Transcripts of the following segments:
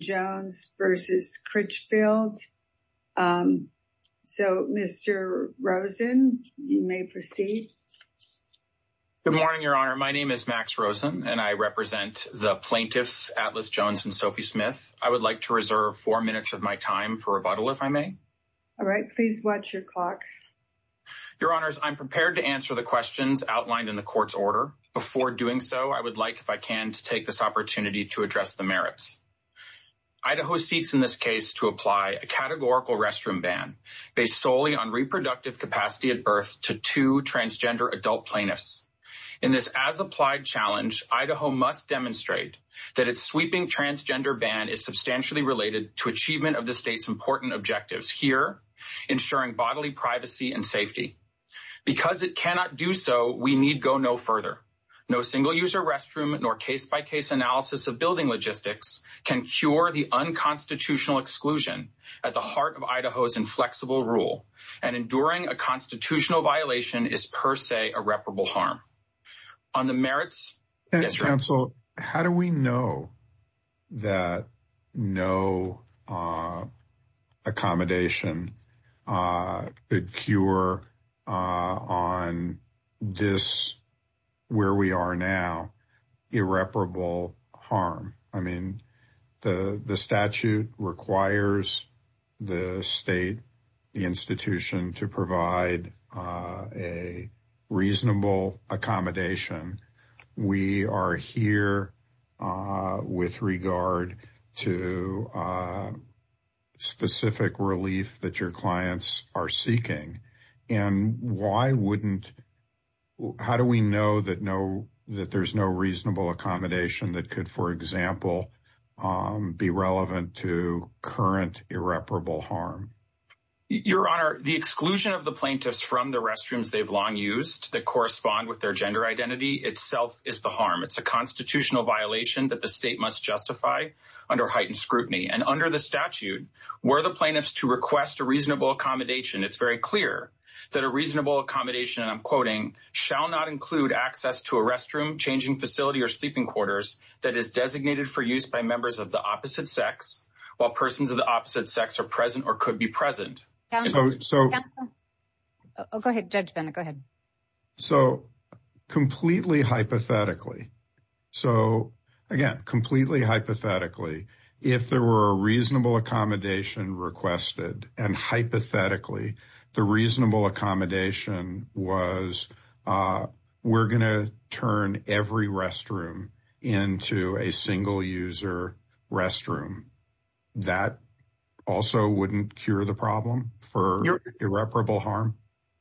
Jones v. Critchfield. So, Mr. Rosen, you may proceed. Good morning, Your Honor. My name is Max Rosen, and I represent the plaintiffs Atlas Jones and Sophie Smith. I would like to reserve four minutes of my time for rebuttal, if I may. All right. Please watch your clock. Your Honors, I'm prepared to answer the questions outlined in the court's order. Before doing so, I would like, if I can, to take this opportunity to address the merits. Idaho seeks in this case to apply a categorical restroom ban based solely on reproductive capacity at birth to two transgender adult plaintiffs. In this as-applied challenge, Idaho must demonstrate that its sweeping transgender ban is substantially related to achievement of the state's important objectives here, ensuring bodily privacy and safety. Because it cannot do so, we need go no further. No single-user restroom nor case-by-case analysis of building logistics can cure the unconstitutional exclusion at the heart of Idaho's inflexible rule, and enduring a constitutional violation is, per se, irreparable harm. On the merits— Counsel, how do we know that no accommodation could cure on this, where we are now, irreparable harm? I mean, the statute requires the state, the institution, to provide a reasonable accommodation. We are here with regard to specific relief that your clients are seeking, and how do we know that there's no reasonable accommodation that could, for example, be relevant to current irreparable harm? Your Honor, the exclusion of the plaintiffs from the restrooms they've long used that correspond with their gender identity itself is the harm. It's a constitutional violation that the state must justify under heightened scrutiny, and under the statute, were the plaintiffs to request a reasonable accommodation, it's very clear that a reasonable accommodation, and I'm quoting, shall not include access to a restroom, changing facility, or sleeping quarters that is designated for use by members of the opposite sex, while persons of the opposite sex are present or could be present. Go ahead, Judge Bennett, go ahead. So, completely hypothetically, so, again, completely hypothetically, if there were a reasonable accommodation requested, and hypothetically, the reasonable accommodation was, we're going to turn every restroom into a single-user restroom, that also wouldn't cure the problem for irreparable harm?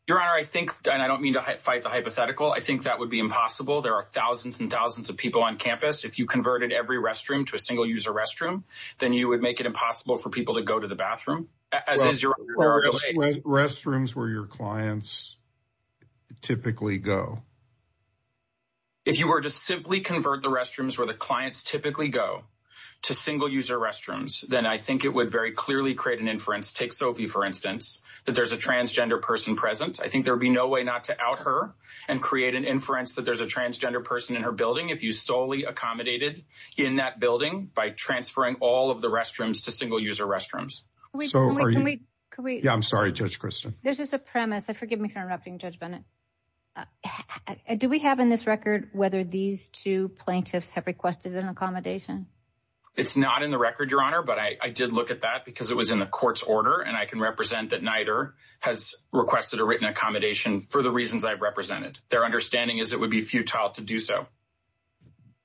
Your Honor, I think, and I don't mean to fight the hypothetical, I think that would be impossible, there are thousands and thousands of people on campus, if you converted every restroom to a single-user restroom, then you would make it impossible for people to go to the bathroom. Restrooms where your clients typically go. If you were to simply convert the restrooms where the clients typically go to single-user restrooms, then I think it would very clearly create an inference, take Sophie, for instance, that there's a transgender person present, I think there would be no way not to out her and create an inference that there's a transgender person in her building, if you solely accommodated in that building by transferring all of the restrooms to single-user restrooms. Can we, yeah, I'm sorry, Judge Christian. There's just a premise, forgive me for interrupting, Judge Bennett. Do we have in this record whether these two plaintiffs have requested an accommodation? It's not in the record, Your Honor, but I did look at that because it was in the court's order, and I can represent that neither has requested a written accommodation for the reasons I've represented. Their understanding is it would be futile to do so.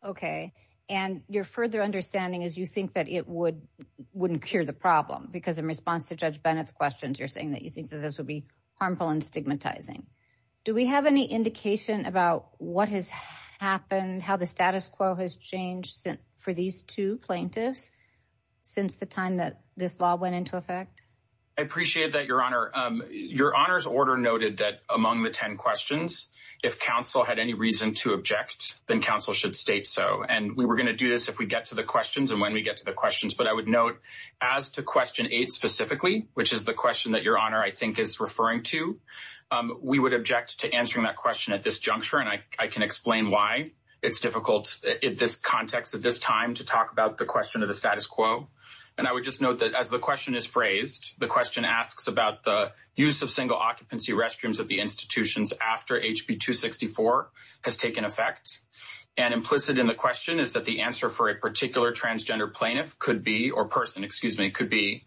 Okay, and your further understanding is you think that it wouldn't cure the problem, because in response to Judge Bennett's questions, you're saying that you think that this would be harmful and stigmatizing. Do we have any indication about what has happened, how the status quo has changed for these two plaintiffs since the time that this law went into effect? I appreciate that, Your Honor. Your Honor's order noted that among the 10 questions, if counsel had any reason to object, then counsel should state so, and we were going to do this if we get to the questions and when we get to the questions, but I would note as to question eight specifically, which is the question that Your Honor, I think, is referring to, we would object to answering that question at this juncture, and I can explain why it's difficult in this context at this time to talk about the question of the status quo, and I would just note that as the question is phrased, the question asks about the use of single occupancy restrooms at the institutions after HB 264 has taken effect, and implicit in the question is that the answer for a particular transgender plaintiff could be, or person, excuse me, could be,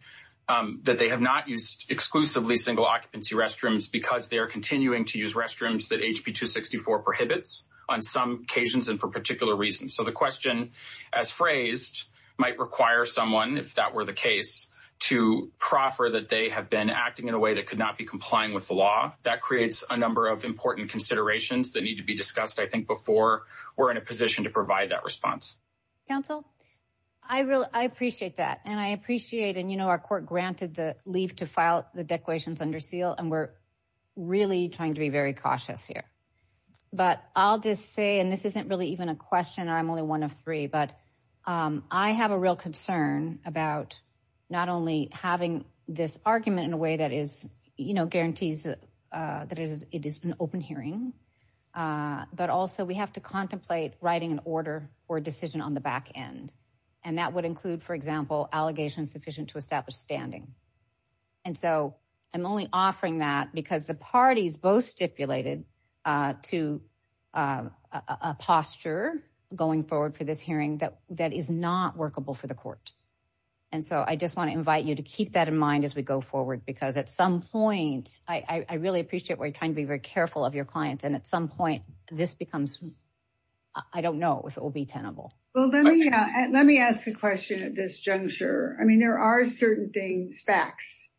that they have not used exclusively single occupancy restrooms because they are continuing to use restrooms that HB 264 prohibits on some occasions and for particular reasons, so the question, as phrased, might require someone, if that were the case, to proffer that they have been acting in a way that could not be complying with the law. That creates a number of important considerations that need to be discussed, I think, before we're in a position to provide that response. Counsel, I appreciate that, and I appreciate, our court granted the leave to file the declarations under seal, and we're really trying to be very cautious here, but I'll just say, and this isn't really even a question, I'm only one of three, but I have a real concern about not only having this argument in a way that guarantees that it is an open hearing, but also we have to contemplate writing an order or decision on the back end, and that would include, for example, allegations sufficient to establish standing, and so I'm only offering that because the parties both stipulated to a posture going forward for this hearing that is not workable for the court, and so I just want to invite you to keep that in mind as we go forward, because at some point, I really appreciate where you're trying to be very careful of your clients, and at some point, this becomes, I don't know if it will be tenable. Well, let me ask a question at this juncture. I mean, there are certain things, facts,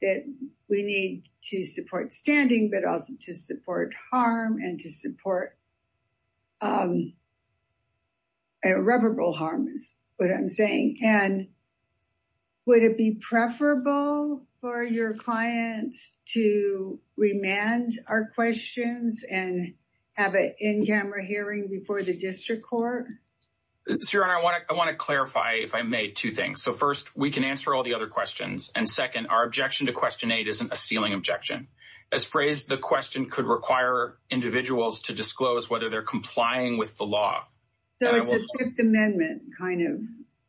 that we need to support standing, but also to support harm and to support irreparable harm is what I'm saying, and would it be preferable for your client to remand our questions and have an in-camera hearing before the district court? Your Honor, I want to clarify, if I may, two things. So first, we can answer all the other questions, and second, our objection to question eight isn't a ceiling objection. As phrased, the question could require individuals to disclose whether they're complying with the law. So it's a Fifth Amendment kind of...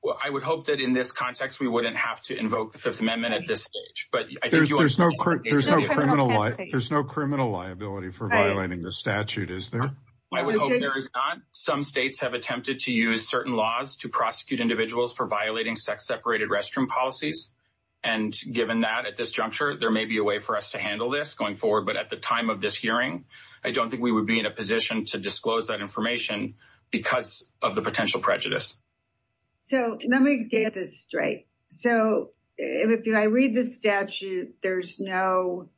Well, I would hope that in this context, we wouldn't have to invoke the Fifth Amendment at this stage. There's no criminal liability for violating the statute, is there? I would hope there is not. Some states have attempted to use certain laws to prosecute individuals for violating sex-separated restroom policies, and given that at this juncture, there may be a way for us to handle this going forward, but at the time of this hearing, I don't think we would be in a position to disclose that information because of the potential prejudice. So let me get this straight. So if I read the statute, there's no...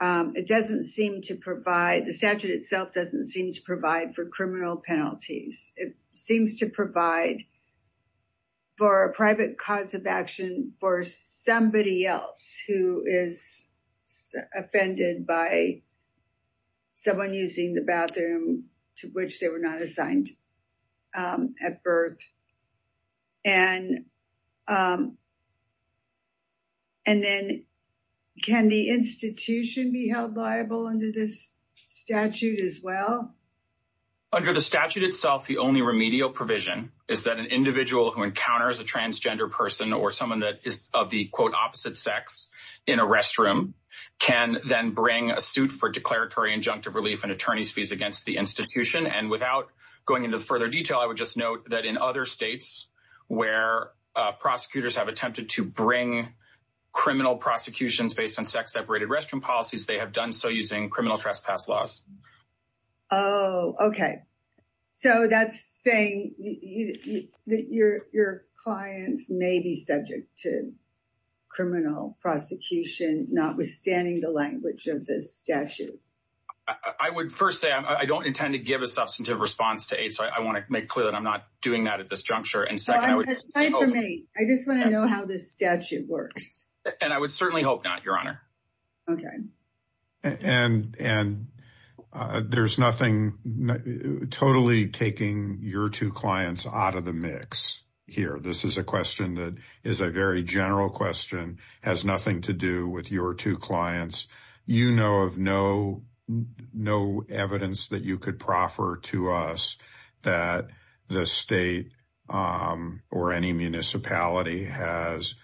It doesn't seem to provide... The statute itself doesn't seem to provide for criminal penalties. It seems to provide for a private cause of action for somebody else who is offended by someone using the bathroom to which they were not assigned at birth. And then, can the institution be held liable under this statute as well? Under the statute itself, the only remedial provision is that an individual who encounters a transgender person or someone that is of the, quote, opposite sex in a restroom can then bring a suit for declaratory injunctive relief and attorney's fees against the institution. And without going into further detail, I would just note that in other states where prosecutors have attempted to bring criminal prosecutions based on sex-separated restroom policies, they have done so using criminal trespass laws. Oh, okay. So that's saying that your clients may be subject to criminal prosecution, notwithstanding the language of this statute. I would first say, I don't intend to give a substantive response to AIDS, so I want to make clear that I'm not doing that at this juncture. And second, I would... I just want to know how this statute works. And I would certainly hope not, Your Honor. Okay. And there's nothing totally taking your two clients out of the mix here. This is a question that is a very general question, has nothing to do with your two clients. You know of no evidence that you could proffer to us that the state or any municipality has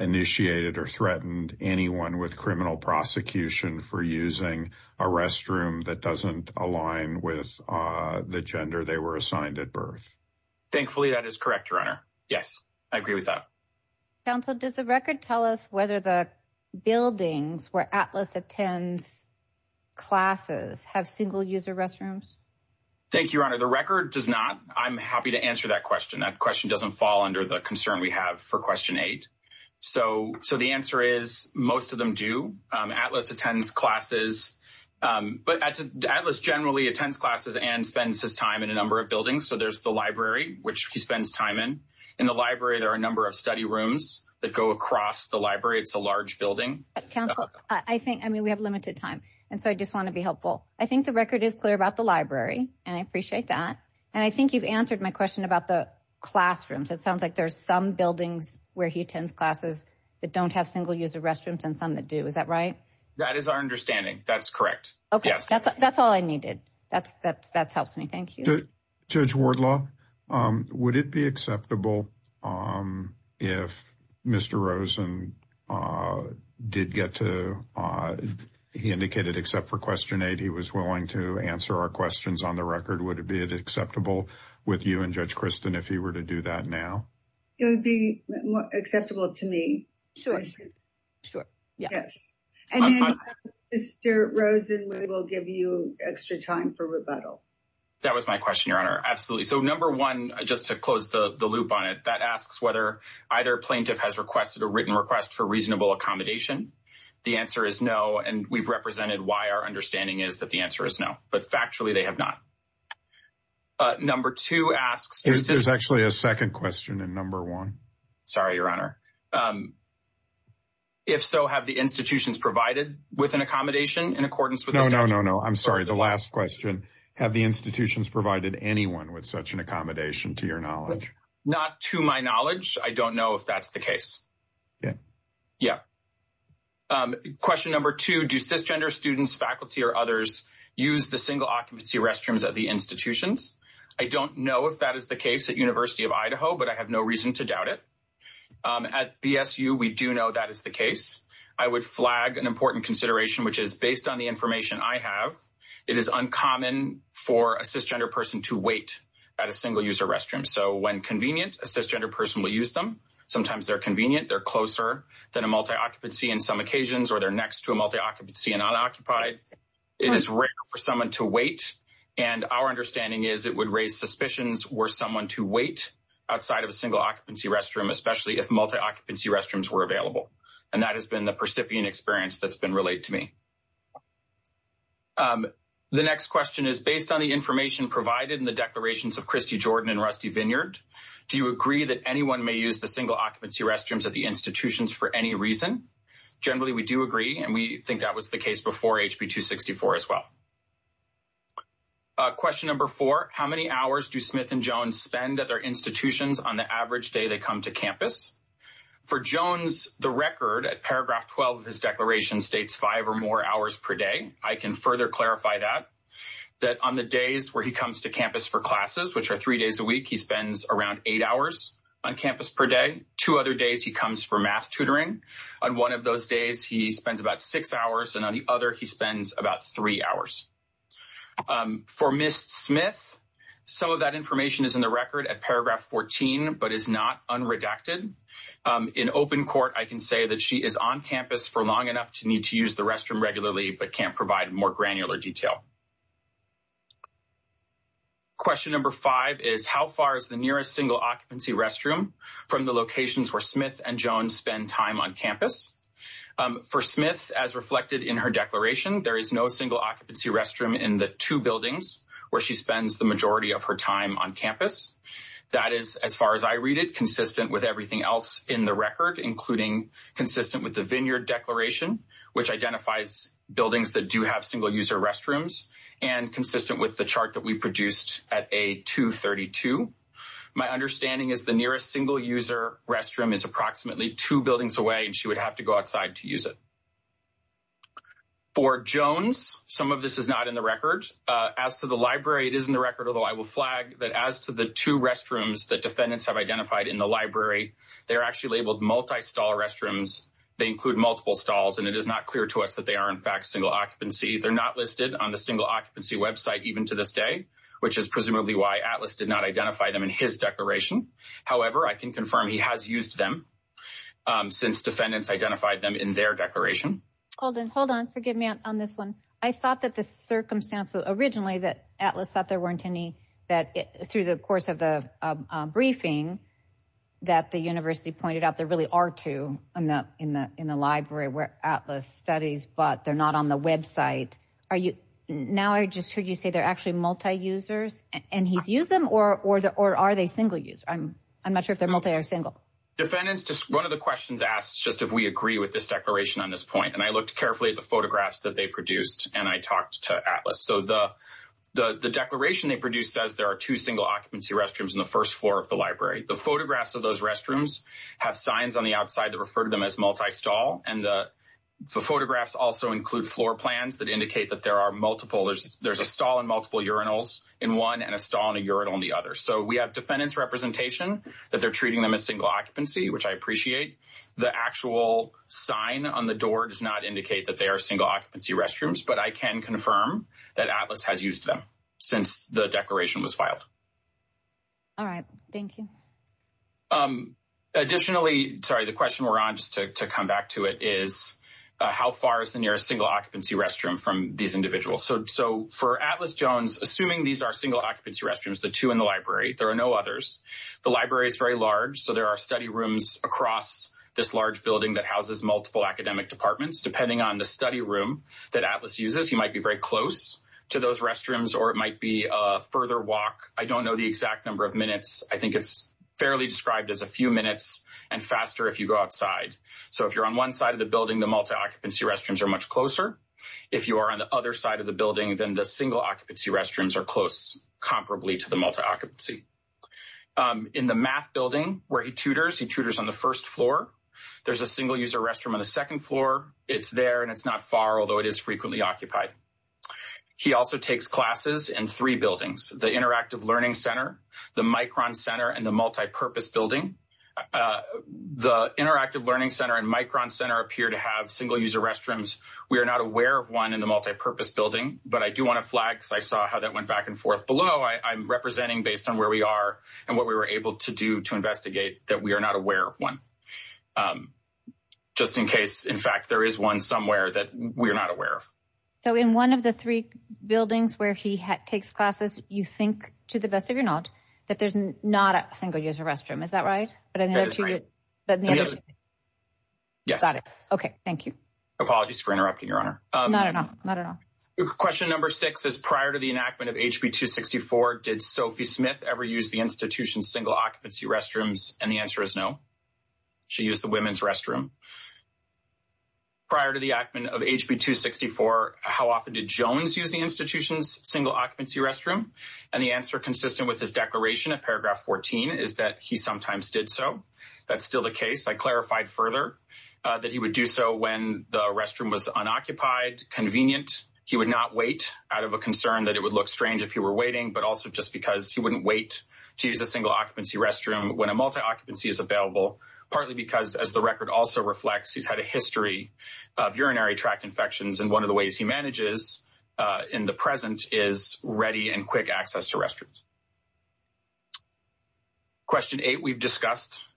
initiated or threatened anyone with criminal prosecution for using a restroom that doesn't align with the gender they were assigned at birth. Thankfully, that is correct, Your Honor. Yes, I agree with that. Counsel, does the record tell us whether the buildings where Atlas attends classes have single-user restrooms? Thank you, Your Honor. The record does not. I'm happy to answer that question. That question doesn't fall under the concern we have for question eight. So the answer is, most of them do. Atlas attends classes, but Atlas generally attends classes and spends his time in a number of buildings. So there's the library, which he spends time in. In the library, there are a number of study rooms that go across the library. It's a large building. Counsel, I think, I mean, we have limited time, and so I just want to be helpful. I think the record is clear about the library, and I appreciate that. And I think you've answered my question about the classrooms. It sounds like there's some buildings where he attends classes that don't have single-user restrooms and some that do. Is that right? That is our understanding. That's correct. Okay, that's all I needed. That helps me. Thank you. Judge Wardlaw, would it be acceptable if Mr. Rosen did get to, he indicated except for question eight, he was willing to answer our questions on the record? Would it be acceptable with you and Judge Christin if he were to do that now? It would be acceptable to me. Sure, sure. Yes. And then, Mr. Rosen, we will give you extra time for rebuttal. That was my question, Your Honor. Absolutely. So number one, just to close the loop on it, that asks whether either plaintiff has requested a written request for reasonable accommodation. The answer is no, and we've represented why our understanding is that the answer is no. But factually, they have not. Number two asks— There's actually a second question in number one. Sorry, Your Honor. If so, have the institutions provided with an accommodation in accordance with the statute? No, no, no. I'm sorry. The last question, have the institutions provided anyone with such an accommodation, to your knowledge? Not to my knowledge. I don't know if that's the case. Yeah. Yeah. Question number two, do cisgender students, faculty, or others use the single occupancy restrooms at the institutions? I don't know if that is the case at University of Idaho, but I have no reason to doubt it. At BSU, we do know that is the case. I would flag an important consideration, which is, on the information I have, it is uncommon for a cisgender person to wait at a single-user restroom. So when convenient, a cisgender person will use them. Sometimes they're convenient, they're closer than a multi-occupancy in some occasions, or they're next to a multi-occupancy and unoccupied. It is rare for someone to wait, and our understanding is it would raise suspicions were someone to wait outside of a single-occupancy restroom, especially if multi-occupancy restrooms were available. And that has been the percipient experience that's been related to me. The next question is, based on the information provided in the declarations of Christy Jordan and Rusty Vineyard, do you agree that anyone may use the single-occupancy restrooms at the institutions for any reason? Generally, we do agree, and we think that was the case before HB 264 as well. Question number four, how many hours do Smith and Jones spend at their institutions on the average day they come to campus? For Jones, the record at paragraph 12 of his declaration states five or more hours per day. I can further clarify that, that on the days where he comes to campus for classes, which are three days a week, he spends around eight hours on campus per day. Two other days, he comes for math tutoring. On one of those days, he spends about six hours, and on the other, he spends about three hours. For Ms. Smith, some of that information is in the record at paragraph 14, but is not unredacted. In open court, I can say that she is on campus for long enough to need to use the restroom regularly, but can't provide more granular detail. Question number five is, how far is the nearest single-occupancy restroom from the locations where Smith and Jones spend time on campus? For Smith, as reflected in her declaration, there is no single-occupancy restroom in the two buildings where she spends the majority of her time on campus. That is, as far as I read it, consistent with everything else in the record, including consistent with the Vineyard Declaration, which identifies buildings that do have single-user restrooms, and consistent with the chart that we produced at A232. My understanding is the nearest single-user restroom is approximately two buildings away, and she would have to go outside to use it. For Jones, some of this is not in the record. As to the library, it is in the record, although I will flag that as to the two restrooms that defendants have identified in the library, they are actually labeled multi-stall restrooms. They include multiple stalls, and it is not clear to us that they are in fact single-occupancy. They're not listed on the single-occupancy website even to this day, which is presumably why Atlas did not identify them in his declaration. However, I can confirm he has used them since defendants identified them in their declaration. Hold on, hold on, forgive me on this one. I thought that the circumstance, originally that Atlas thought there weren't any, that through the course of the briefing, that the university pointed out there really are two in the library where Atlas studies, but they're not on the website. Now I just heard you say they're actually multi-users, and he's used them, or are they single-user? I'm not sure if they're multi- or single. Defendants, just one of the questions asks just if we agree with this declaration on this point, and I looked carefully at the photographs that they produced, and I talked to Atlas. So the declaration they produced says there are two single-occupancy restrooms in the first floor of the library. The photographs of those restrooms have signs on the outside that refer to them as multi-stall, and the photographs also include floor plans that indicate that there are multiple, there's a stall in multiple urinals in one, and a stall in a urinal in the other. So we have defendant's representation that they're treating them as single-occupancy, which I appreciate. The actual sign on the door does not indicate that they are single-occupancy restrooms, but I can confirm that Atlas has used them since the declaration was filed. All right, thank you. Additionally, sorry, the question we're on just to come back to it is, how far is the nearest single-occupancy restroom from these individuals? So for Atlas Jones, assuming these are single-occupancy restrooms, the two in the library, there are no others. The library is very large, so there are study rooms across this large building that houses multiple academic departments. Depending on the study room that Atlas uses, you might be very close to those restrooms, or it might be a further walk. I don't know the exact number of minutes. I think it's fairly described as a few minutes and faster if you go outside. So if you're on one side of the building, the multi-occupancy restrooms are much closer. If you are on the other side of the building, then the single-occupancy restrooms are close, comparably to multi-occupancy. In the math building where he tutors, he tutors on the first floor. There's a single-user restroom on the second floor. It's there and it's not far, although it is frequently occupied. He also takes classes in three buildings, the Interactive Learning Center, the Micron Center, and the Multi-Purpose Building. The Interactive Learning Center and Micron Center appear to have single-user restrooms. We are not aware of one in the Multi-Purpose Building, but I do want to flag because I saw how that went back and forth. Below, I'm representing, based on where we are and what we were able to do to investigate, that we are not aware of one, just in case, in fact, there is one somewhere that we are not aware of. So in one of the three buildings where he takes classes, you think, to the best of your knowledge, that there's not a single-user restroom, is that right? Yes. Got it. Okay, thank you. Apologies for interrupting, Your Honor. Not at all, not at all. Question number six is, prior to the enactment of HB 264, did Sophie Smith ever use the institution's single-occupancy restrooms? And the answer is no. She used the women's restroom. Prior to the enactment of HB 264, how often did Jones use the institution's single-occupancy restroom? And the answer, consistent with his declaration at paragraph 14, is that he sometimes did so. That's still the case. I clarified further that he would do so when the restroom was unoccupied, convenient. He would not wait out of a concern that it would look strange if he were waiting, but also just because he wouldn't wait to use a single-occupancy restroom when a multi-occupancy is available, partly because, as the record also reflects, he's had a history of urinary tract infections. And one of the ways he manages in the present is ready and quick access to restrooms. Question eight we've discussed.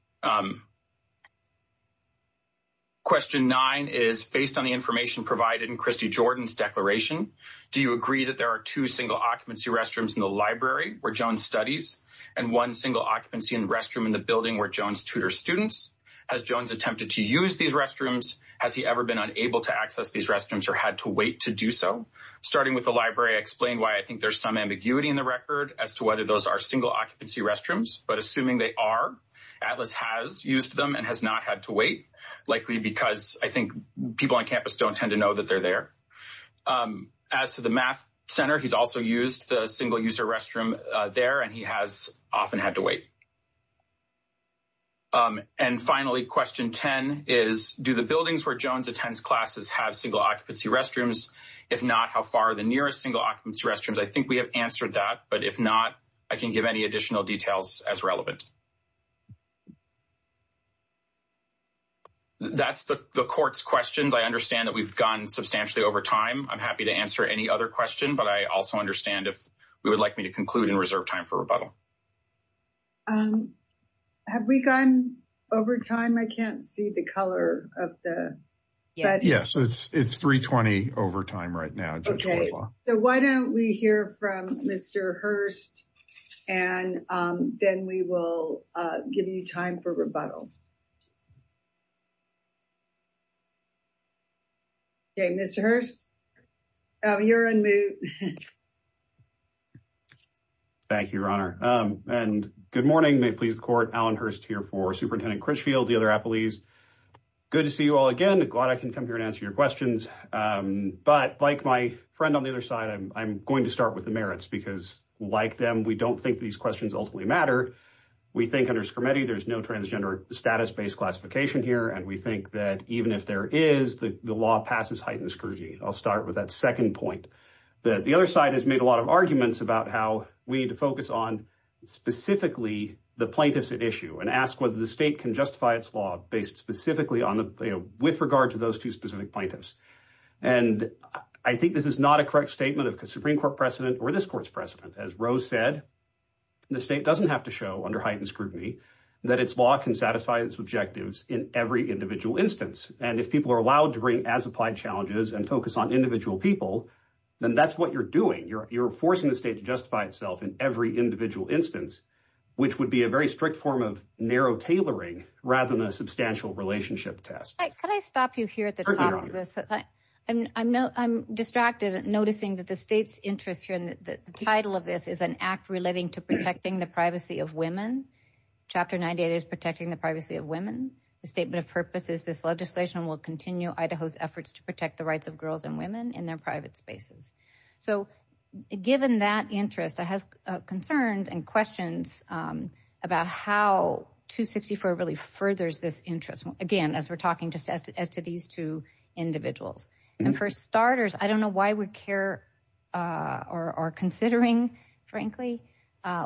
Question nine is, based on the information provided in Christy Jordan's declaration, do you agree that there are two single-occupancy restrooms in the library where Jones studies, and one single-occupancy restroom in the building where Jones tutors students? Has Jones attempted to use these restrooms? Has he ever been unable to access these restrooms or had to wait to do so? Starting with the library, I explained why I think there's some single-occupancy restrooms, but assuming they are, Atlas has used them and has not had to wait, likely because I think people on campus don't tend to know that they're there. As to the math center, he's also used the single-user restroom there, and he has often had to wait. And finally, question 10 is, do the buildings where Jones attends classes have single-occupancy restrooms? If not, how far are the nearest single-occupancy restrooms? I think we have answered that, but if not, I can give any additional details as relevant. That's the court's questions. I understand that we've gone substantially over time. I'm happy to answer any other question, but I also understand if you would like me to conclude and reserve time for rebuttal. Have we gone over time? I can't see the color of the... Yeah, so it's 3.20 over time right now. Okay, so why don't we hear from Mr. Hurst, and then we will give you time for rebuttal. Okay, Mr. Hurst, you're on mute. Thank you, Your Honor, and good morning. May it please the court, Allen Hurst here for Superintendent Critchfield, the other appellees. Good to see you all again. Glad I can come here and answer your questions, but like my friend on the other side, I'm going to start with the merits, because like them, we don't think these questions ultimately matter. We think under Scarametti, there's no transgender status-based classification here, and we think that even if there is, the law passes, heightens, and scourges. I'll start with that second point. The other side has made a lot of arguments about how we need to focus on specifically the plaintiff's issue and ask whether the state can justify its law based specifically with regard to those two specific plaintiffs, and I think this is not a correct statement of a Supreme Court precedent or this Court's precedent. As Rose said, the state doesn't have to show under heightened scrutiny that its law can satisfy its objectives in every individual instance, and if people are allowed to bring as-applied challenges and focus on individual people, then that's what you're doing. You're forcing the state to justify itself in every individual instance, which would be a very form of narrow tailoring rather than a substantial relationship test. Can I stop you here at the top of this? I'm distracted noticing that the state's interest here in the title of this is an act relating to protecting the privacy of women. Chapter 98 is protecting the privacy of women. The statement of purpose is this legislation will continue Idaho's efforts to protect the rights of girls and women in their private spaces. So given that interest, I have concerns and questions about how 264 really furthers this interest. Again, as we're talking just as to these two individuals, and for starters, I don't know why we care or are considering frankly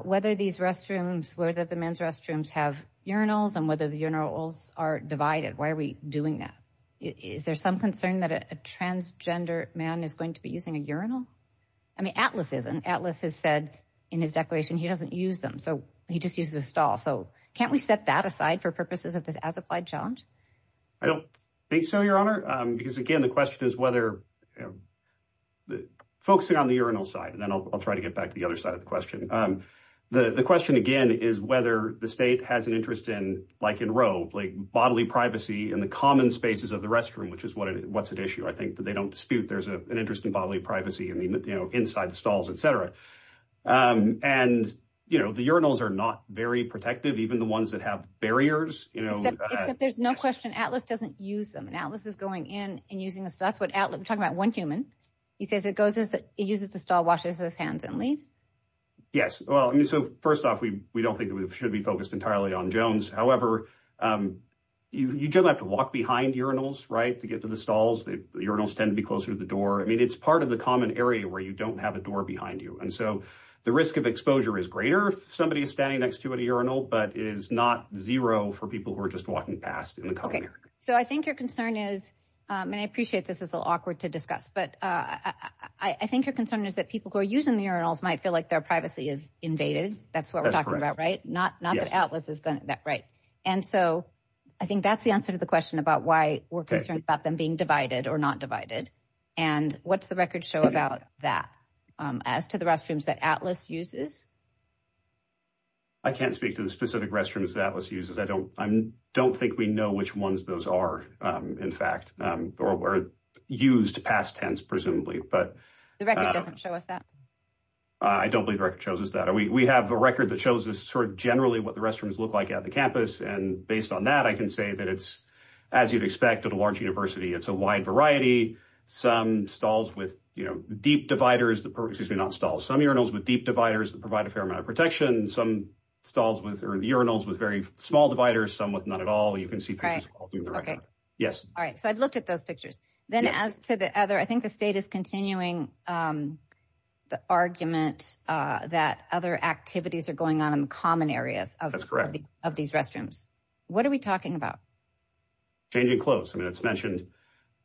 whether these restrooms, whether the men's restrooms have urinals and whether the urinals are divided. Why are we doing that? Is there some concern that a transgender man is going to be using a urinal? I mean, Atlas isn't. Atlas has said in his declaration he doesn't use them. So he just uses a stall. So can't we set that aside for purposes of this as-applied challenge? I don't think so, Your Honor, because again, the question is whether focusing on the urinal side, and then I'll try to get back to the other side of the question. The question again is whether the state has an interest in like in Roe, like bodily privacy in common spaces of the restroom, which is what's at issue. I think that they don't dispute there's an interest in bodily privacy inside the stalls, etc. And the urinals are not very protective, even the ones that have barriers. Except there's no question Atlas doesn't use them. Atlas is going in and using a stall. We're talking about one human. He says he uses the stall, washes his hands, and leaves. Yes. Well, I mean, so first off, we don't think that we should be focused entirely on Jones. However, you generally have to walk behind urinals, right, to get to the stalls. The urinals tend to be closer to the door. I mean, it's part of the common area where you don't have a door behind you. And so the risk of exposure is greater if somebody is standing next to an urinal, but it is not zero for people who are just walking past in the common area. Okay, so I think your concern is, and I appreciate this is a little awkward to discuss, but I think your concern is that people who are using the urinals might feel like their privacy is invaded. That's what we're right. And so I think that's the answer to the question about why we're concerned about them being divided or not divided. And what's the record show about that as to the restrooms that Atlas uses? I can't speak to the specific restrooms that Atlas uses. I don't think we know which ones those are, in fact, or were used past tense, presumably. But the record doesn't show us that. I don't believe the record shows us that. We have a record that shows us sort of generally what the restrooms look like at the campus. And based on that, I can say that it's, as you'd expect at a large university, it's a wide variety. Some stalls with deep dividers, excuse me, not stalls, some urinals with deep dividers that provide a fair amount of protection. Some stalls with urinals with very small dividers, some with none at all. You can see pictures. Yes. All right, so I've looked at those pictures. Then as to the other, I think the state is continuing the argument that other activities are going on in the common areas of these restrooms. What are we talking about? Changing clothes. I mean, it's mentioned,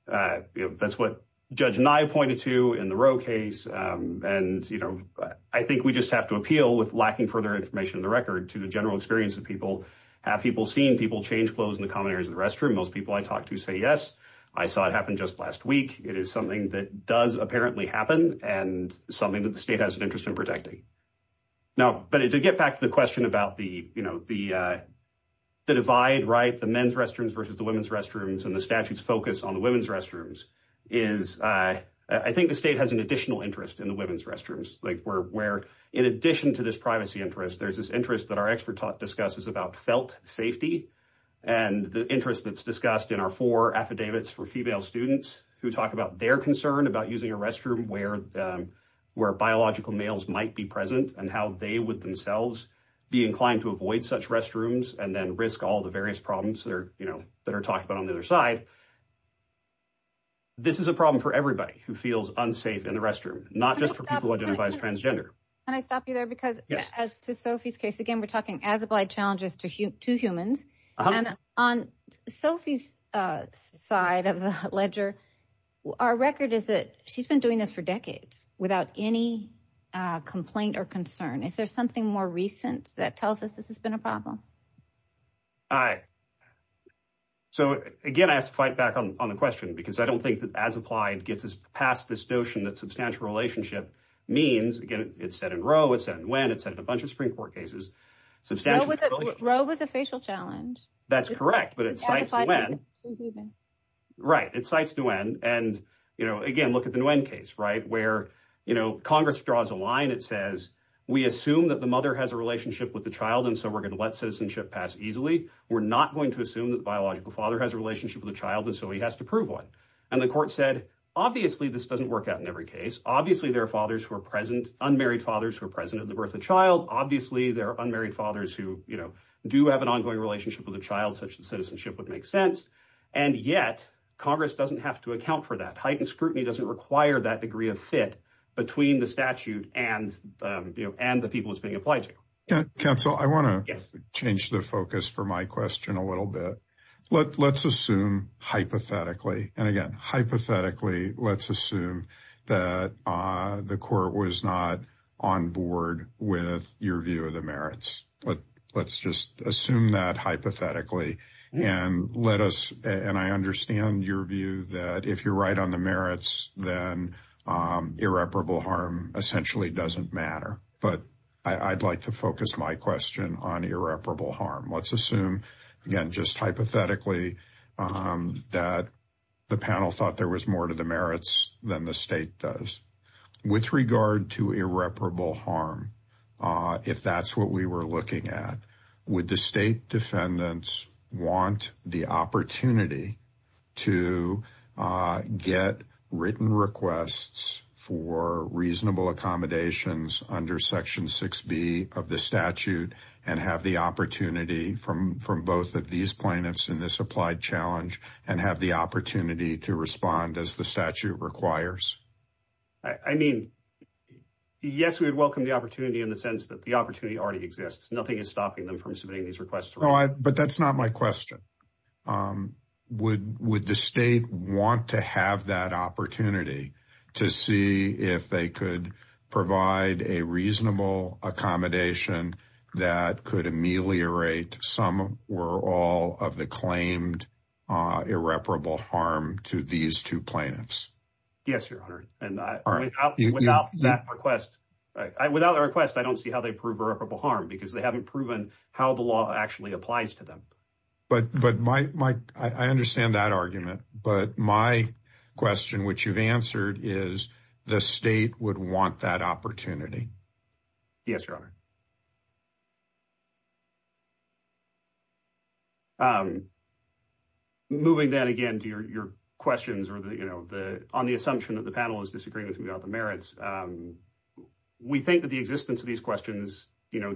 that's what Judge Nye pointed to in the Roe case. And I think we just have to appeal with lacking further information in the record to the general experience that people have, people seeing people change clothes in the common areas of the restroom. Most people I talk to say, yes, I saw it happen just last week. It is something that does apparently happen and something that the state has an interest in protecting. Now, but to get back to the question about the divide, right, the men's restrooms versus the women's restrooms and the statute's focus on the women's restrooms is, I think the state has an additional interest in the women's restrooms, where in addition to this privacy interest, there's this interest that our expert talk discusses about felt safety and the interest that's discussed in our four affidavits for female students who talk about their concern about using a restroom where biological males might be present and how they would themselves be inclined to avoid such restrooms and then risk all the various problems that are talked about on the other side. This is a problem for everybody who feels unsafe in the restroom, not just for people who identify as transgender. Can I stop you there? Because as to Sophie's case, again, we're talking as applied challenges to humans. And on Sophie's side of the ledger, our record is that she's been doing this for decades without any complaint or concern. Is there something more recent that tells us this has been a problem? All right. So again, I have to fight back on the question because I don't think that as applied gets us past this notion that substantial relationship means, again, it's set in row, it's set in a bunch of Supreme Court cases. Row was a facial challenge. That's correct. Right. It cites Nguyen. And again, look at the Nguyen case where Congress draws a line. It says, we assume that the mother has a relationship with the child and so we're going to let citizenship pass easily. We're not going to assume that the biological father has a relationship with the child and so he has to prove one. And the court said, obviously, this doesn't work out every case. Obviously, there are fathers who are present, unmarried fathers who are present at the birth of the child. Obviously, there are unmarried fathers who do have an ongoing relationship with the child such that citizenship would make sense. And yet Congress doesn't have to account for that. Heightened scrutiny doesn't require that degree of fit between the statute and the people it's being applied to. Counsel, I want to change the focus for my question a little bit. Let's assume hypothetically. And again, hypothetically, let's assume that the court was not on board with your view of the merits. But let's just assume that hypothetically. And let us and I understand your view that if you're right on the merits, then irreparable harm essentially doesn't matter. But I'd like to focus my question on irreparable harm. Let's assume, again, just hypothetically, that the panel thought there was more to the merits than the state does. With regard to irreparable harm, if that's what we were looking at, would the state defendants want the opportunity to get written requests for reasonable accommodations under Section 6b of the statute and have the opportunity from both of these plaintiffs in this applied challenge and have the opportunity to respond as the statute requires? I mean, yes, we would welcome the opportunity in the sense that the opportunity already exists. Nothing is stopping them from submitting these requests. But that's not my question. Would the state want to have that opportunity to see if they could provide a reasonable accommodation that could ameliorate some or all of the claimed irreparable harm to these two plaintiffs? Yes, Your Honor. And without that request, I don't see how they prove irreparable harm because they haven't proven how the law actually applies to them. But I understand that argument. But my question, which you've answered, is the state would want that opportunity? Yes, Your Honor. Moving then again to your questions on the assumption that the panel is disagreeing with me about the merits, we think that the existence of these questions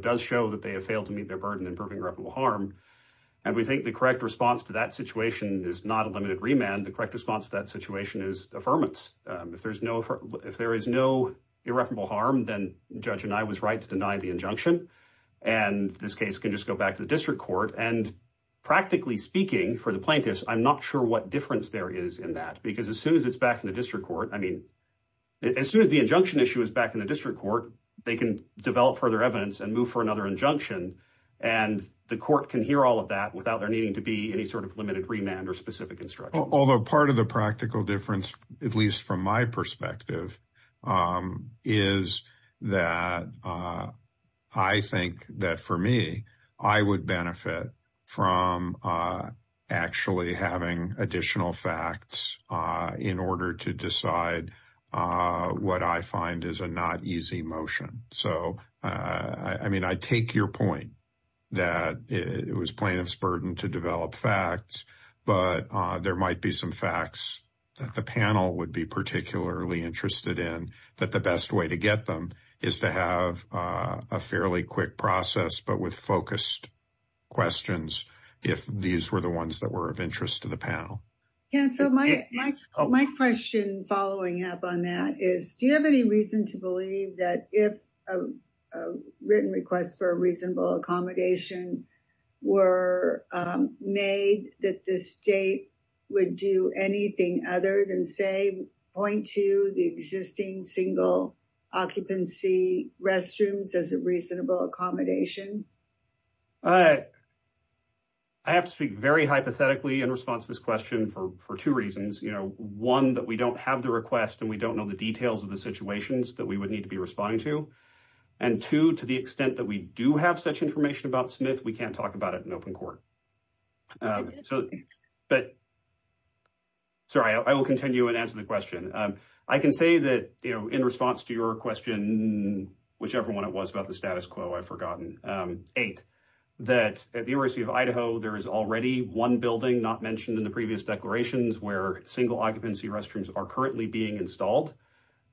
does show that they have failed to meet their burden in proving irreparable harm. And we think the correct response to that situation is not a limited remand. The correct response to that situation is affirmance. If there is no irreparable harm, then the judge and I was right to deny the injunction. And this case can just go back to the district court. And practically speaking for the plaintiffs, I'm not sure what difference there is in that. Because as soon as it's back in the district court, I mean, as soon as the injunction issue is back in the district court, they can develop further evidence and move for another injunction. And the court can hear all of that without there needing to be any sort of limited remand or specific instruction. Although part of the practical difference, at least from my perspective, is that I think that for me, I would benefit from actually having additional facts in order to decide what I find is a not easy motion. So I mean, I take your point that it was plaintiff's burden to develop facts. But there might be some facts that the panel would be particularly interested in, that the best way to get them is to have a fairly quick process, but with focused questions, if these were the ones that were of interest to the panel. Yeah, so my question following up on that is, do you have any reason to believe that if a written request for a reasonable accommodation were made that the state would do anything other than say, point to the existing single occupancy restrooms as a reasonable accommodation? I have to speak very hypothetically in response to this question for two reasons. You know, one, that we don't have the request and we don't know the details of the situations that we would need to be responding to. And two, to the extent that we do have such information about Smith, we can't talk about it in open court. Sorry, I will continue and answer the question. I can say that in response to your question, whichever one it was about the status quo, I've forgotten. Eight, that at the University of Idaho, there is already one building not mentioned in the previous declarations where single occupancy restrooms are currently being installed.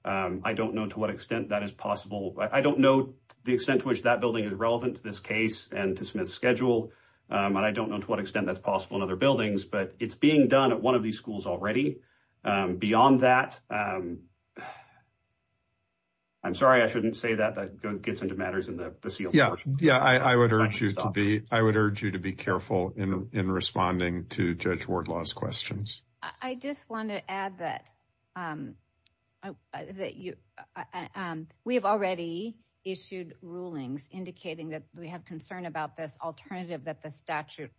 I don't know to what extent that is possible. I don't know the extent to which that building is relevant to this case and to Smith's schedule. And I don't know to what extent that's possible in other buildings, but it's being done at one of these schools already. Beyond that, I'm sorry, I shouldn't say that, but it gets into matters in the seal. Yeah, I would urge you to be careful in responding to Judge Wardlaw's questions. I just want to add that we have already issued rulings indicating that we have concern about this alternative that the statute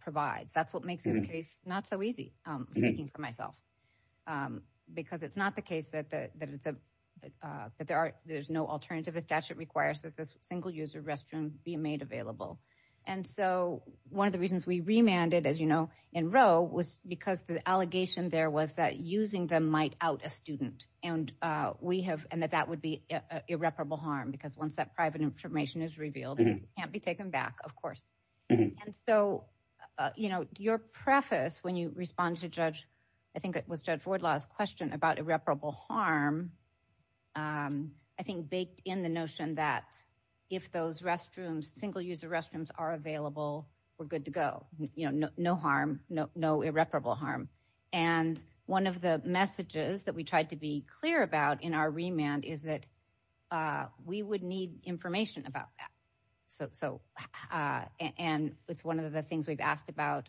provides. That's what makes this case not so easy, speaking for myself, because it's not the case that there's no alternative. The statute requires that this single-user restroom be made available. And so, one of the reasons we remanded, as you know, in Roe was because the allegation there was that using them might out a student, and that that would be an irreparable harm because once that private information is revealed, it can't taken back, of course. And so, your preface when you respond to Judge, I think it was Judge Wardlaw's question about irreparable harm, I think baked in the notion that if those single-user restrooms are available, we're good to go. No harm, no irreparable harm. And one of the messages that we tried to be clear about in our remand is that we would need information about that. So, and it's one of the things we've asked about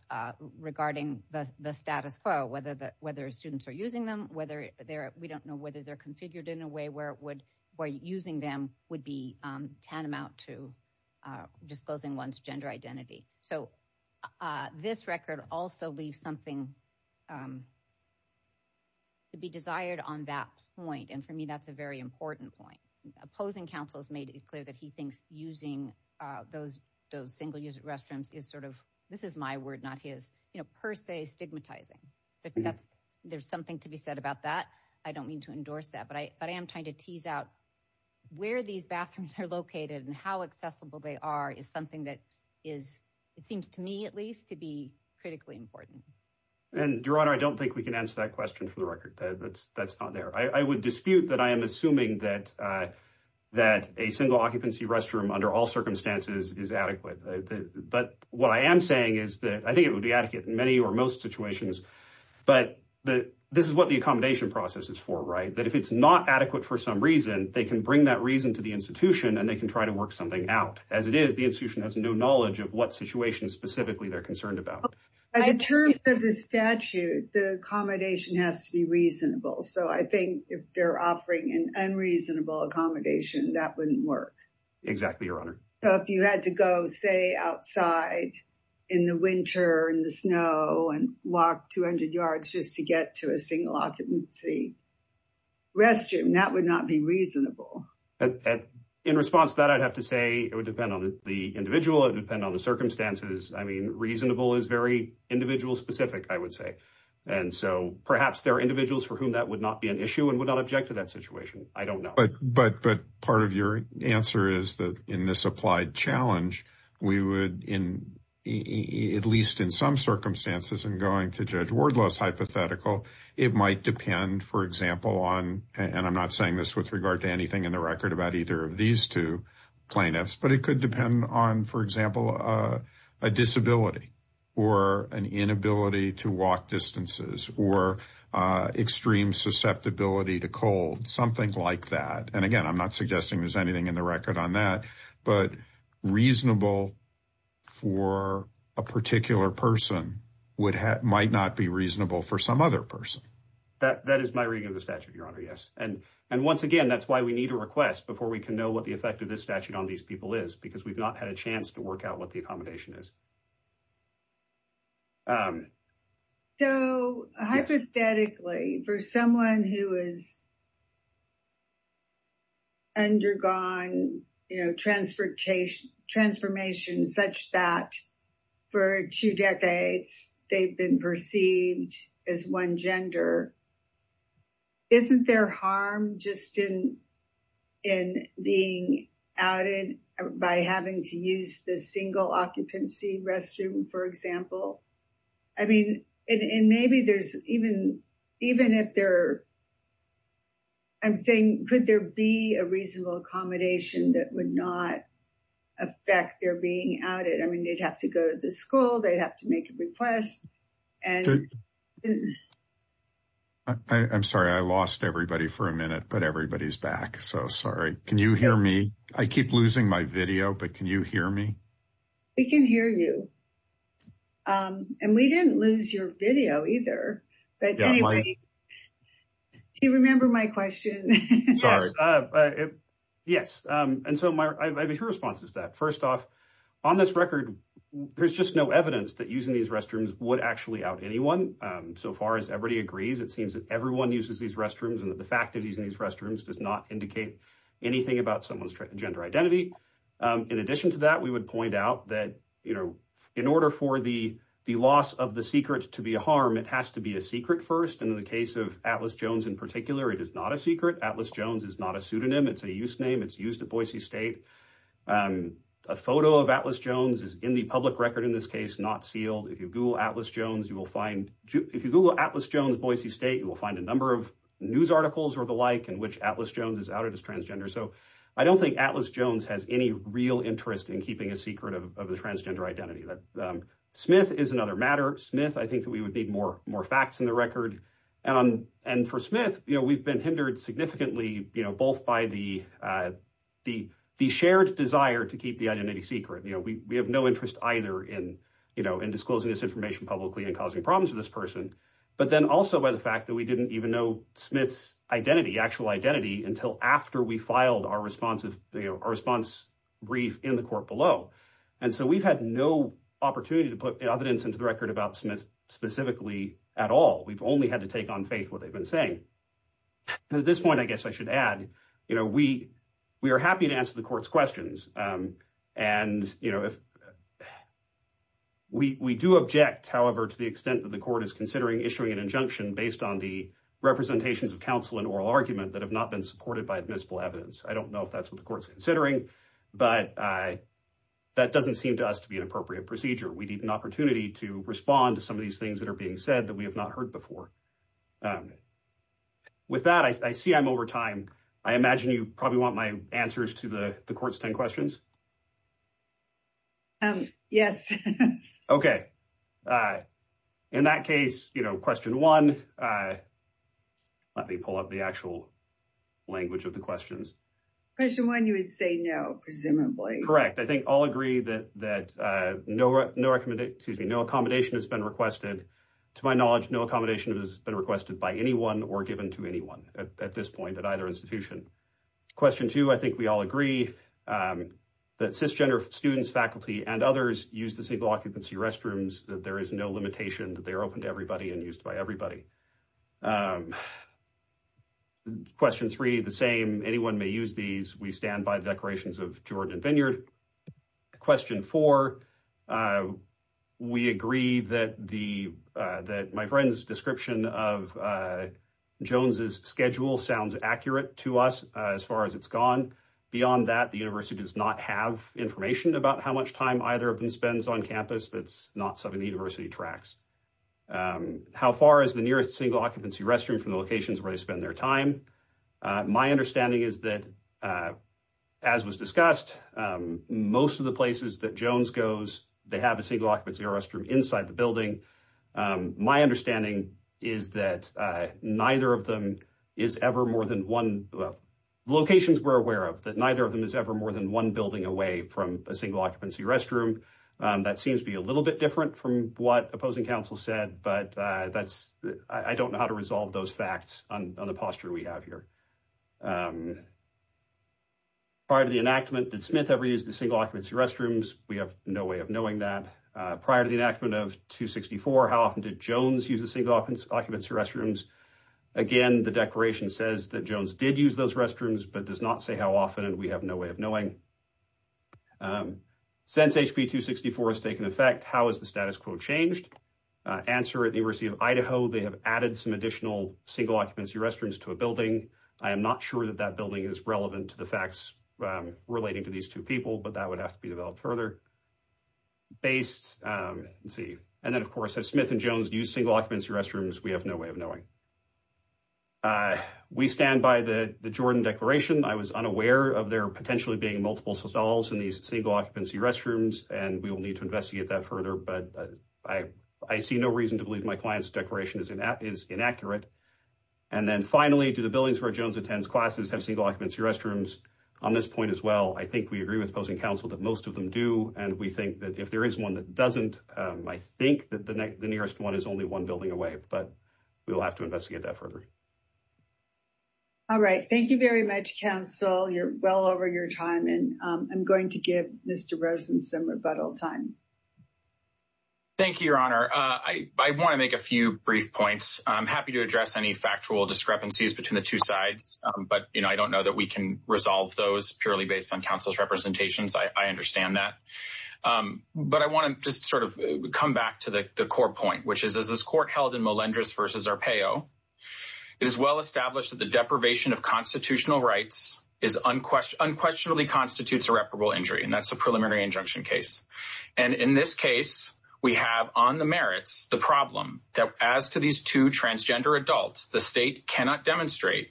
regarding the status quo, whether students are using them, whether they're, we don't know whether they're configured in a way where using them would be tantamount to disclosing one's gender identity. So, this record also leaves something to be desired on that point. And for me, that's a very important point. Opposing counsel has made it clear that he thinks using those single-user restrooms is sort of, this is my word, not his, per se stigmatizing. There's something to be said about that. I don't mean to endorse that, but I am trying to tease out where these bathrooms are located and how accessible they are is something that is, it seems to me at least, to be critically important. And Your Honor, I don't think we can answer that question for the record. That's not there. I would dispute that I am assuming that a single occupancy restroom under all circumstances is adequate. But what I am saying is that I think it would be adequate in many or most situations, but this is what the accommodation process is for, right? That if it's not adequate for some reason, they can bring that reason to the institution and they can try to work something out. As it is, the institution has no knowledge of what situation specifically they're concerned about. In terms of the statute, the accommodation has to be reasonable. So I think if they're offering an unreasonable accommodation, that wouldn't work. Exactly, Your Honor. So if you had to go, say, outside in the winter and the snow and walk 200 yards just to get to a single occupancy restroom, that would not be reasonable. In response to that, I'd have to say it would depend on the individual. It would depend on the circumstances. I mean, reasonable is very individual specific, I would say. And so perhaps there are individuals for whom that would not be an issue and would not object to that situation. I don't know. But part of your answer is that in this applied challenge, we would, at least in some circumstances, in going to Judge Wardless hypothetical, it might depend, for example, on, and I'm not saying this with regard to anything in the record about either of these two plaintiffs, but it could depend on, for example, a disability or an inability to walk distances or extreme susceptibility to cold, something like that. And again, I'm not suggesting there's anything in the record on that, but reasonable for a particular person might not be reasonable for some other person. That is my reading of the statute, Your Honor, yes. And once again, that's why we need a request before we can know what the effect of this statute on these people is, because we've not had a chance to work out what the accommodation is. So hypothetically, for someone who has undergone transformation such that for two decades, they've been perceived as one gender, isn't there harm just in being outed by having to use the single occupancy restroom, for example? I mean, and maybe there's even, even if there, I'm saying, could there be a reasonable accommodation that would not affect their being outed? I mean, they'd have to go to the school, they'd have to make a request. And I'm sorry, I lost everybody for a minute, but everybody's back. So sorry. Can you hear me? I keep losing my video, but can you hear me? We can hear you. And we didn't lose your video either. But do you remember my question? Sorry. Yes. And so my response is that first off, on this record, there's just no evidence that using these restrooms would actually out anyone. So far as everybody agrees, it seems that everyone uses these restrooms and that the fact of using these restrooms does not indicate anything about someone's gender identity. In addition to that, we would point out that in order for the loss of the secret to be a harm, it has to be a secret first. And in the case of Atlas Jones, in particular, it is not a secret. Atlas Jones is not a pseudonym. It's a use name. It's used at Boise State. A photo of Atlas Jones is in the public record in this case, not sealed. If you Google Atlas Jones, Boise State, you will find a number of news articles or the like in which Atlas Jones is outed as transgender. So I don't think Atlas Jones has any real interest in keeping a secret of the transgender identity. Smith is another matter. Smith, I think that we would need more facts in the record. And for Smith, we've been hindered significantly, both by the shared desire to keep the identity secret. We have no interest either in disclosing this information publicly and causing problems with this person, but then also by the fact that we didn't even know Smith's identity, actual identity, until after we filed our response brief in the court below. And so we've had no opportunity to put evidence into the record about Smith specifically at all. We've only had to take on faith what they've been saying. At this point, I guess I should add, you know, we are happy to answer the court's questions. And, you know, we do object, however, to the extent that the court is considering issuing an injunction based on the representations of counsel and oral argument that have not been supported by admissible evidence. I don't know if that's what the court's considering, but that doesn't seem to us to be an appropriate procedure. We need an opportunity to respond to some of these things that are being said that we have not heard before. With that, I see I'm over time. I imagine you probably want my answers to the court's 10 questions. Yes. Okay. In that case, you know, question one, let me pull up the actual language of the questions. Question one, you would say no, correct. I think I'll agree that that no, no, excuse me, no accommodation has been requested. To my knowledge, no accommodation has been requested by anyone or given to anyone at this point at either institution. Question two, I think we all agree that cisgender students, faculty and others use the single occupancy restrooms, that there is no limitation that they are open to everybody and used by everybody. Question three, the same, anyone may use these. We stand by the decorations of Jordan Vineyard. Question four, we agree that my friend's description of Jones's schedule sounds accurate to us as far as it's gone. Beyond that, the university does not have information about how much time either of them spends on campus. That's not something the university tracks. How far is the nearest single occupancy restroom from the locations where they spend their time? My understanding is that as was discussed, most of the places that Jones goes, they have a single occupancy restroom inside the building. My understanding is that neither of them is ever more than one, well, locations we're aware of, that neither of them is ever more than one building away from a single occupancy restroom. That seems to be a little bit different from what opposing counsel said, but that's, I don't know how to resolve those facts on the posture we have here. Prior to the enactment, did Smith ever use the single occupancy restrooms? We have no way of knowing that. Prior to the enactment of 264, how often did Jones use the single occupancy restrooms? Again, the declaration says that Jones did use those restrooms, but does not say how often, and we have no way of knowing. Since HB 264 has taken effect, how has the status quo changed? Answer, at the University of Idaho, they have added some additional single occupancy restrooms to a building. I am not sure that that building is relevant to the facts relating to these two people, but that would have to be developed further. And then, of course, if Smith and Jones use single occupancy restrooms, we have no way of knowing. We stand by the Jordan declaration. I was unaware of there potentially being multiple single occupancy restrooms, and we will need to investigate that further, but I see no reason to believe my client's declaration is inaccurate. And then finally, do the buildings where Jones attends classes have single occupancy restrooms? On this point as well, I think we agree with opposing counsel that most of them do, and we think that if there is one that doesn't, I think that the nearest one is only one building away, but we will have to investigate that further. All right. Thank you very much, counsel. You're well over your time, and I'm going to give Mr. Rosen some rebuttal time. Thank you, Your Honor. I want to make a few brief points. I'm happy to address any factual discrepancies between the two sides, but I don't know that we can resolve those purely based on counsel's representations. I understand that. But I want to just sort of come back to the core point, which is, as this court held in Molendras v. Arpaio, it is well established that the deprivation of constitutional rights unquestionably constitutes irreparable injury, and that's a preliminary injunction case. And in this case, we have on the merits the problem that as to these two transgender adults, the state cannot demonstrate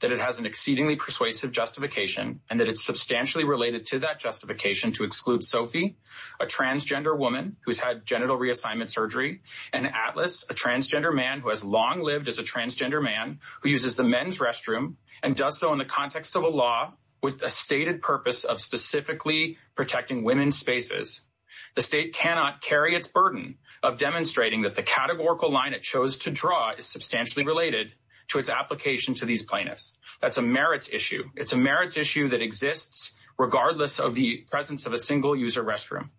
that it has an exceedingly persuasive justification and that it's substantially related to that justification to exclude Sophie, a transgender woman who's had genital reassignment surgery, and Atlas, a transgender man who has long lived as a transgender man who uses the men's restroom and does so in the context of a law with a stated purpose of specifically protecting women's spaces. The state cannot carry its burden of demonstrating that the categorical line it chose to draw is substantially related to its application to these plaintiffs. That's a merits issue. It's a merits issue that exists regardless of the presence of a single-user restroom.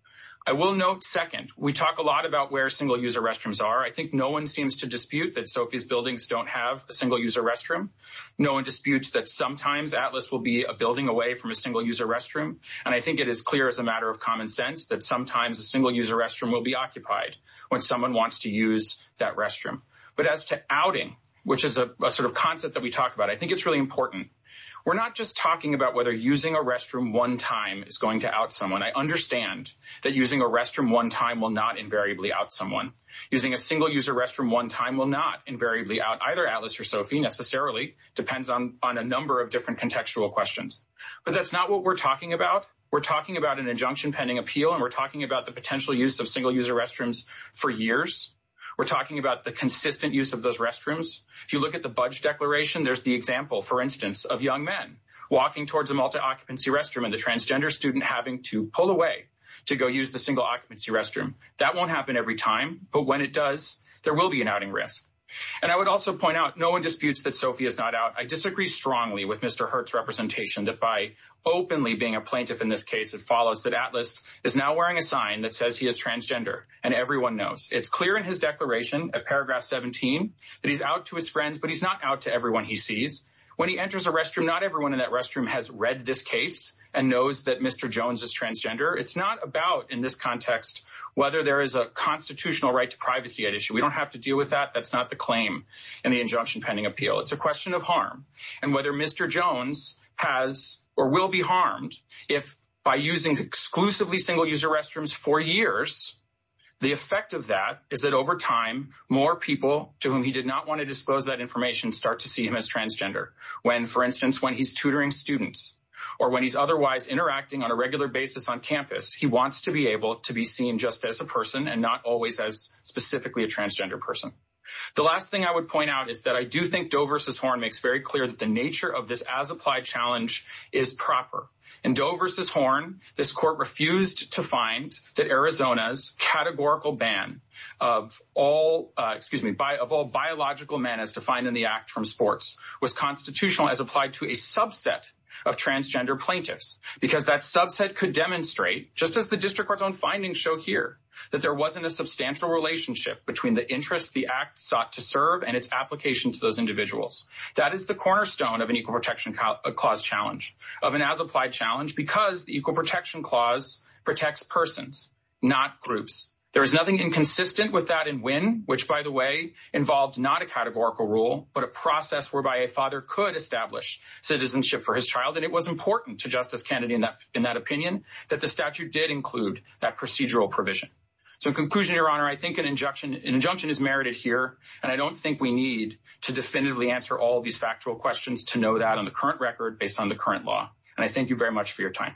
I will note, second, we talk a lot about where single-user restrooms are. I think no one seems to dispute that Sophie's buildings don't have a single-user restroom. No one disputes that sometimes Atlas will be a building away from a single-user restroom, and I think it is clear as a matter of common sense that sometimes a single-user restroom will be occupied when someone wants to use that restroom. But as to outing, which is a sort of concept that we talk about, I think it's really important. We're not just talking about whether using a restroom one time is going to out someone. I understand that using a restroom one time will not invariably out someone. Using a single-user restroom one time will not invariably out either Atlas or Sophie necessarily. Depends on a number of different contextual questions. But that's not what we're talking about. We're talking about an injunction pending appeal, and we're talking about the potential use of single-user restrooms for years. We're talking about the consistent use of those restrooms. If you look at the budget declaration, there's the for instance of young men walking towards a multi-occupancy restroom and the transgender student having to pull away to go use the single-occupancy restroom. That won't happen every time, but when it does, there will be an outing risk. And I would also point out no one disputes that Sophie is not out. I disagree strongly with Mr. Hurt's representation that by openly being a plaintiff in this case, it follows that Atlas is now wearing a sign that says he is transgender, and everyone knows. It's clear in his declaration at paragraph 17 that he's out to his friends, but he's not out to everyone he sees. When he enters a restroom, not everyone in that restroom has read this case and knows that Mr. Jones is transgender. It's not about in this context whether there is a constitutional right to privacy at issue. We don't have to deal with that. That's not the claim in the injunction pending appeal. It's a question of harm. And whether Mr. Jones has or will be harmed if by using exclusively single-user restrooms for years, the effect of that is that over time, more people to whom he did not want to disclose that information start to see him as transgender. When, for instance, when he's tutoring students or when he's otherwise interacting on a regular basis on campus, he wants to be able to be seen just as a person and not always as specifically a transgender person. The last thing I would point out is that I do think Doe v. Horn makes very clear that the nature of this as-applied challenge is proper. In Doe v. Horn, this court refused to find that Arizona's categorical ban of all biological manners defined in the Act from sports was constitutional as applied to a subset of transgender plaintiffs because that subset could demonstrate, just as the District Court's own findings show here, that there wasn't a substantial relationship between the interests the Act sought to serve and its application to those individuals. That is the cornerstone of an equal protection clause challenge, of an as-applied challenge, because the equal protection clause protects persons, not groups. There is nothing inconsistent with that in Winn, which, by the way, involved not a categorical rule but a process whereby a father could establish citizenship for his child, and it was important to Justice Kennedy in that opinion that the statute did include that procedural provision. So in conclusion, Your Honor, I think an injunction is merited here, and I don't think we need to definitively answer all of these factual questions to know that on the current record based on the current law. And I thank you very much for your time.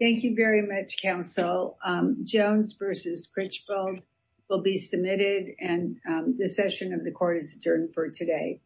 Thank you very much, Counsel. Jones v. Critchfield will be submitted, and the session of the Court is adjourned for today.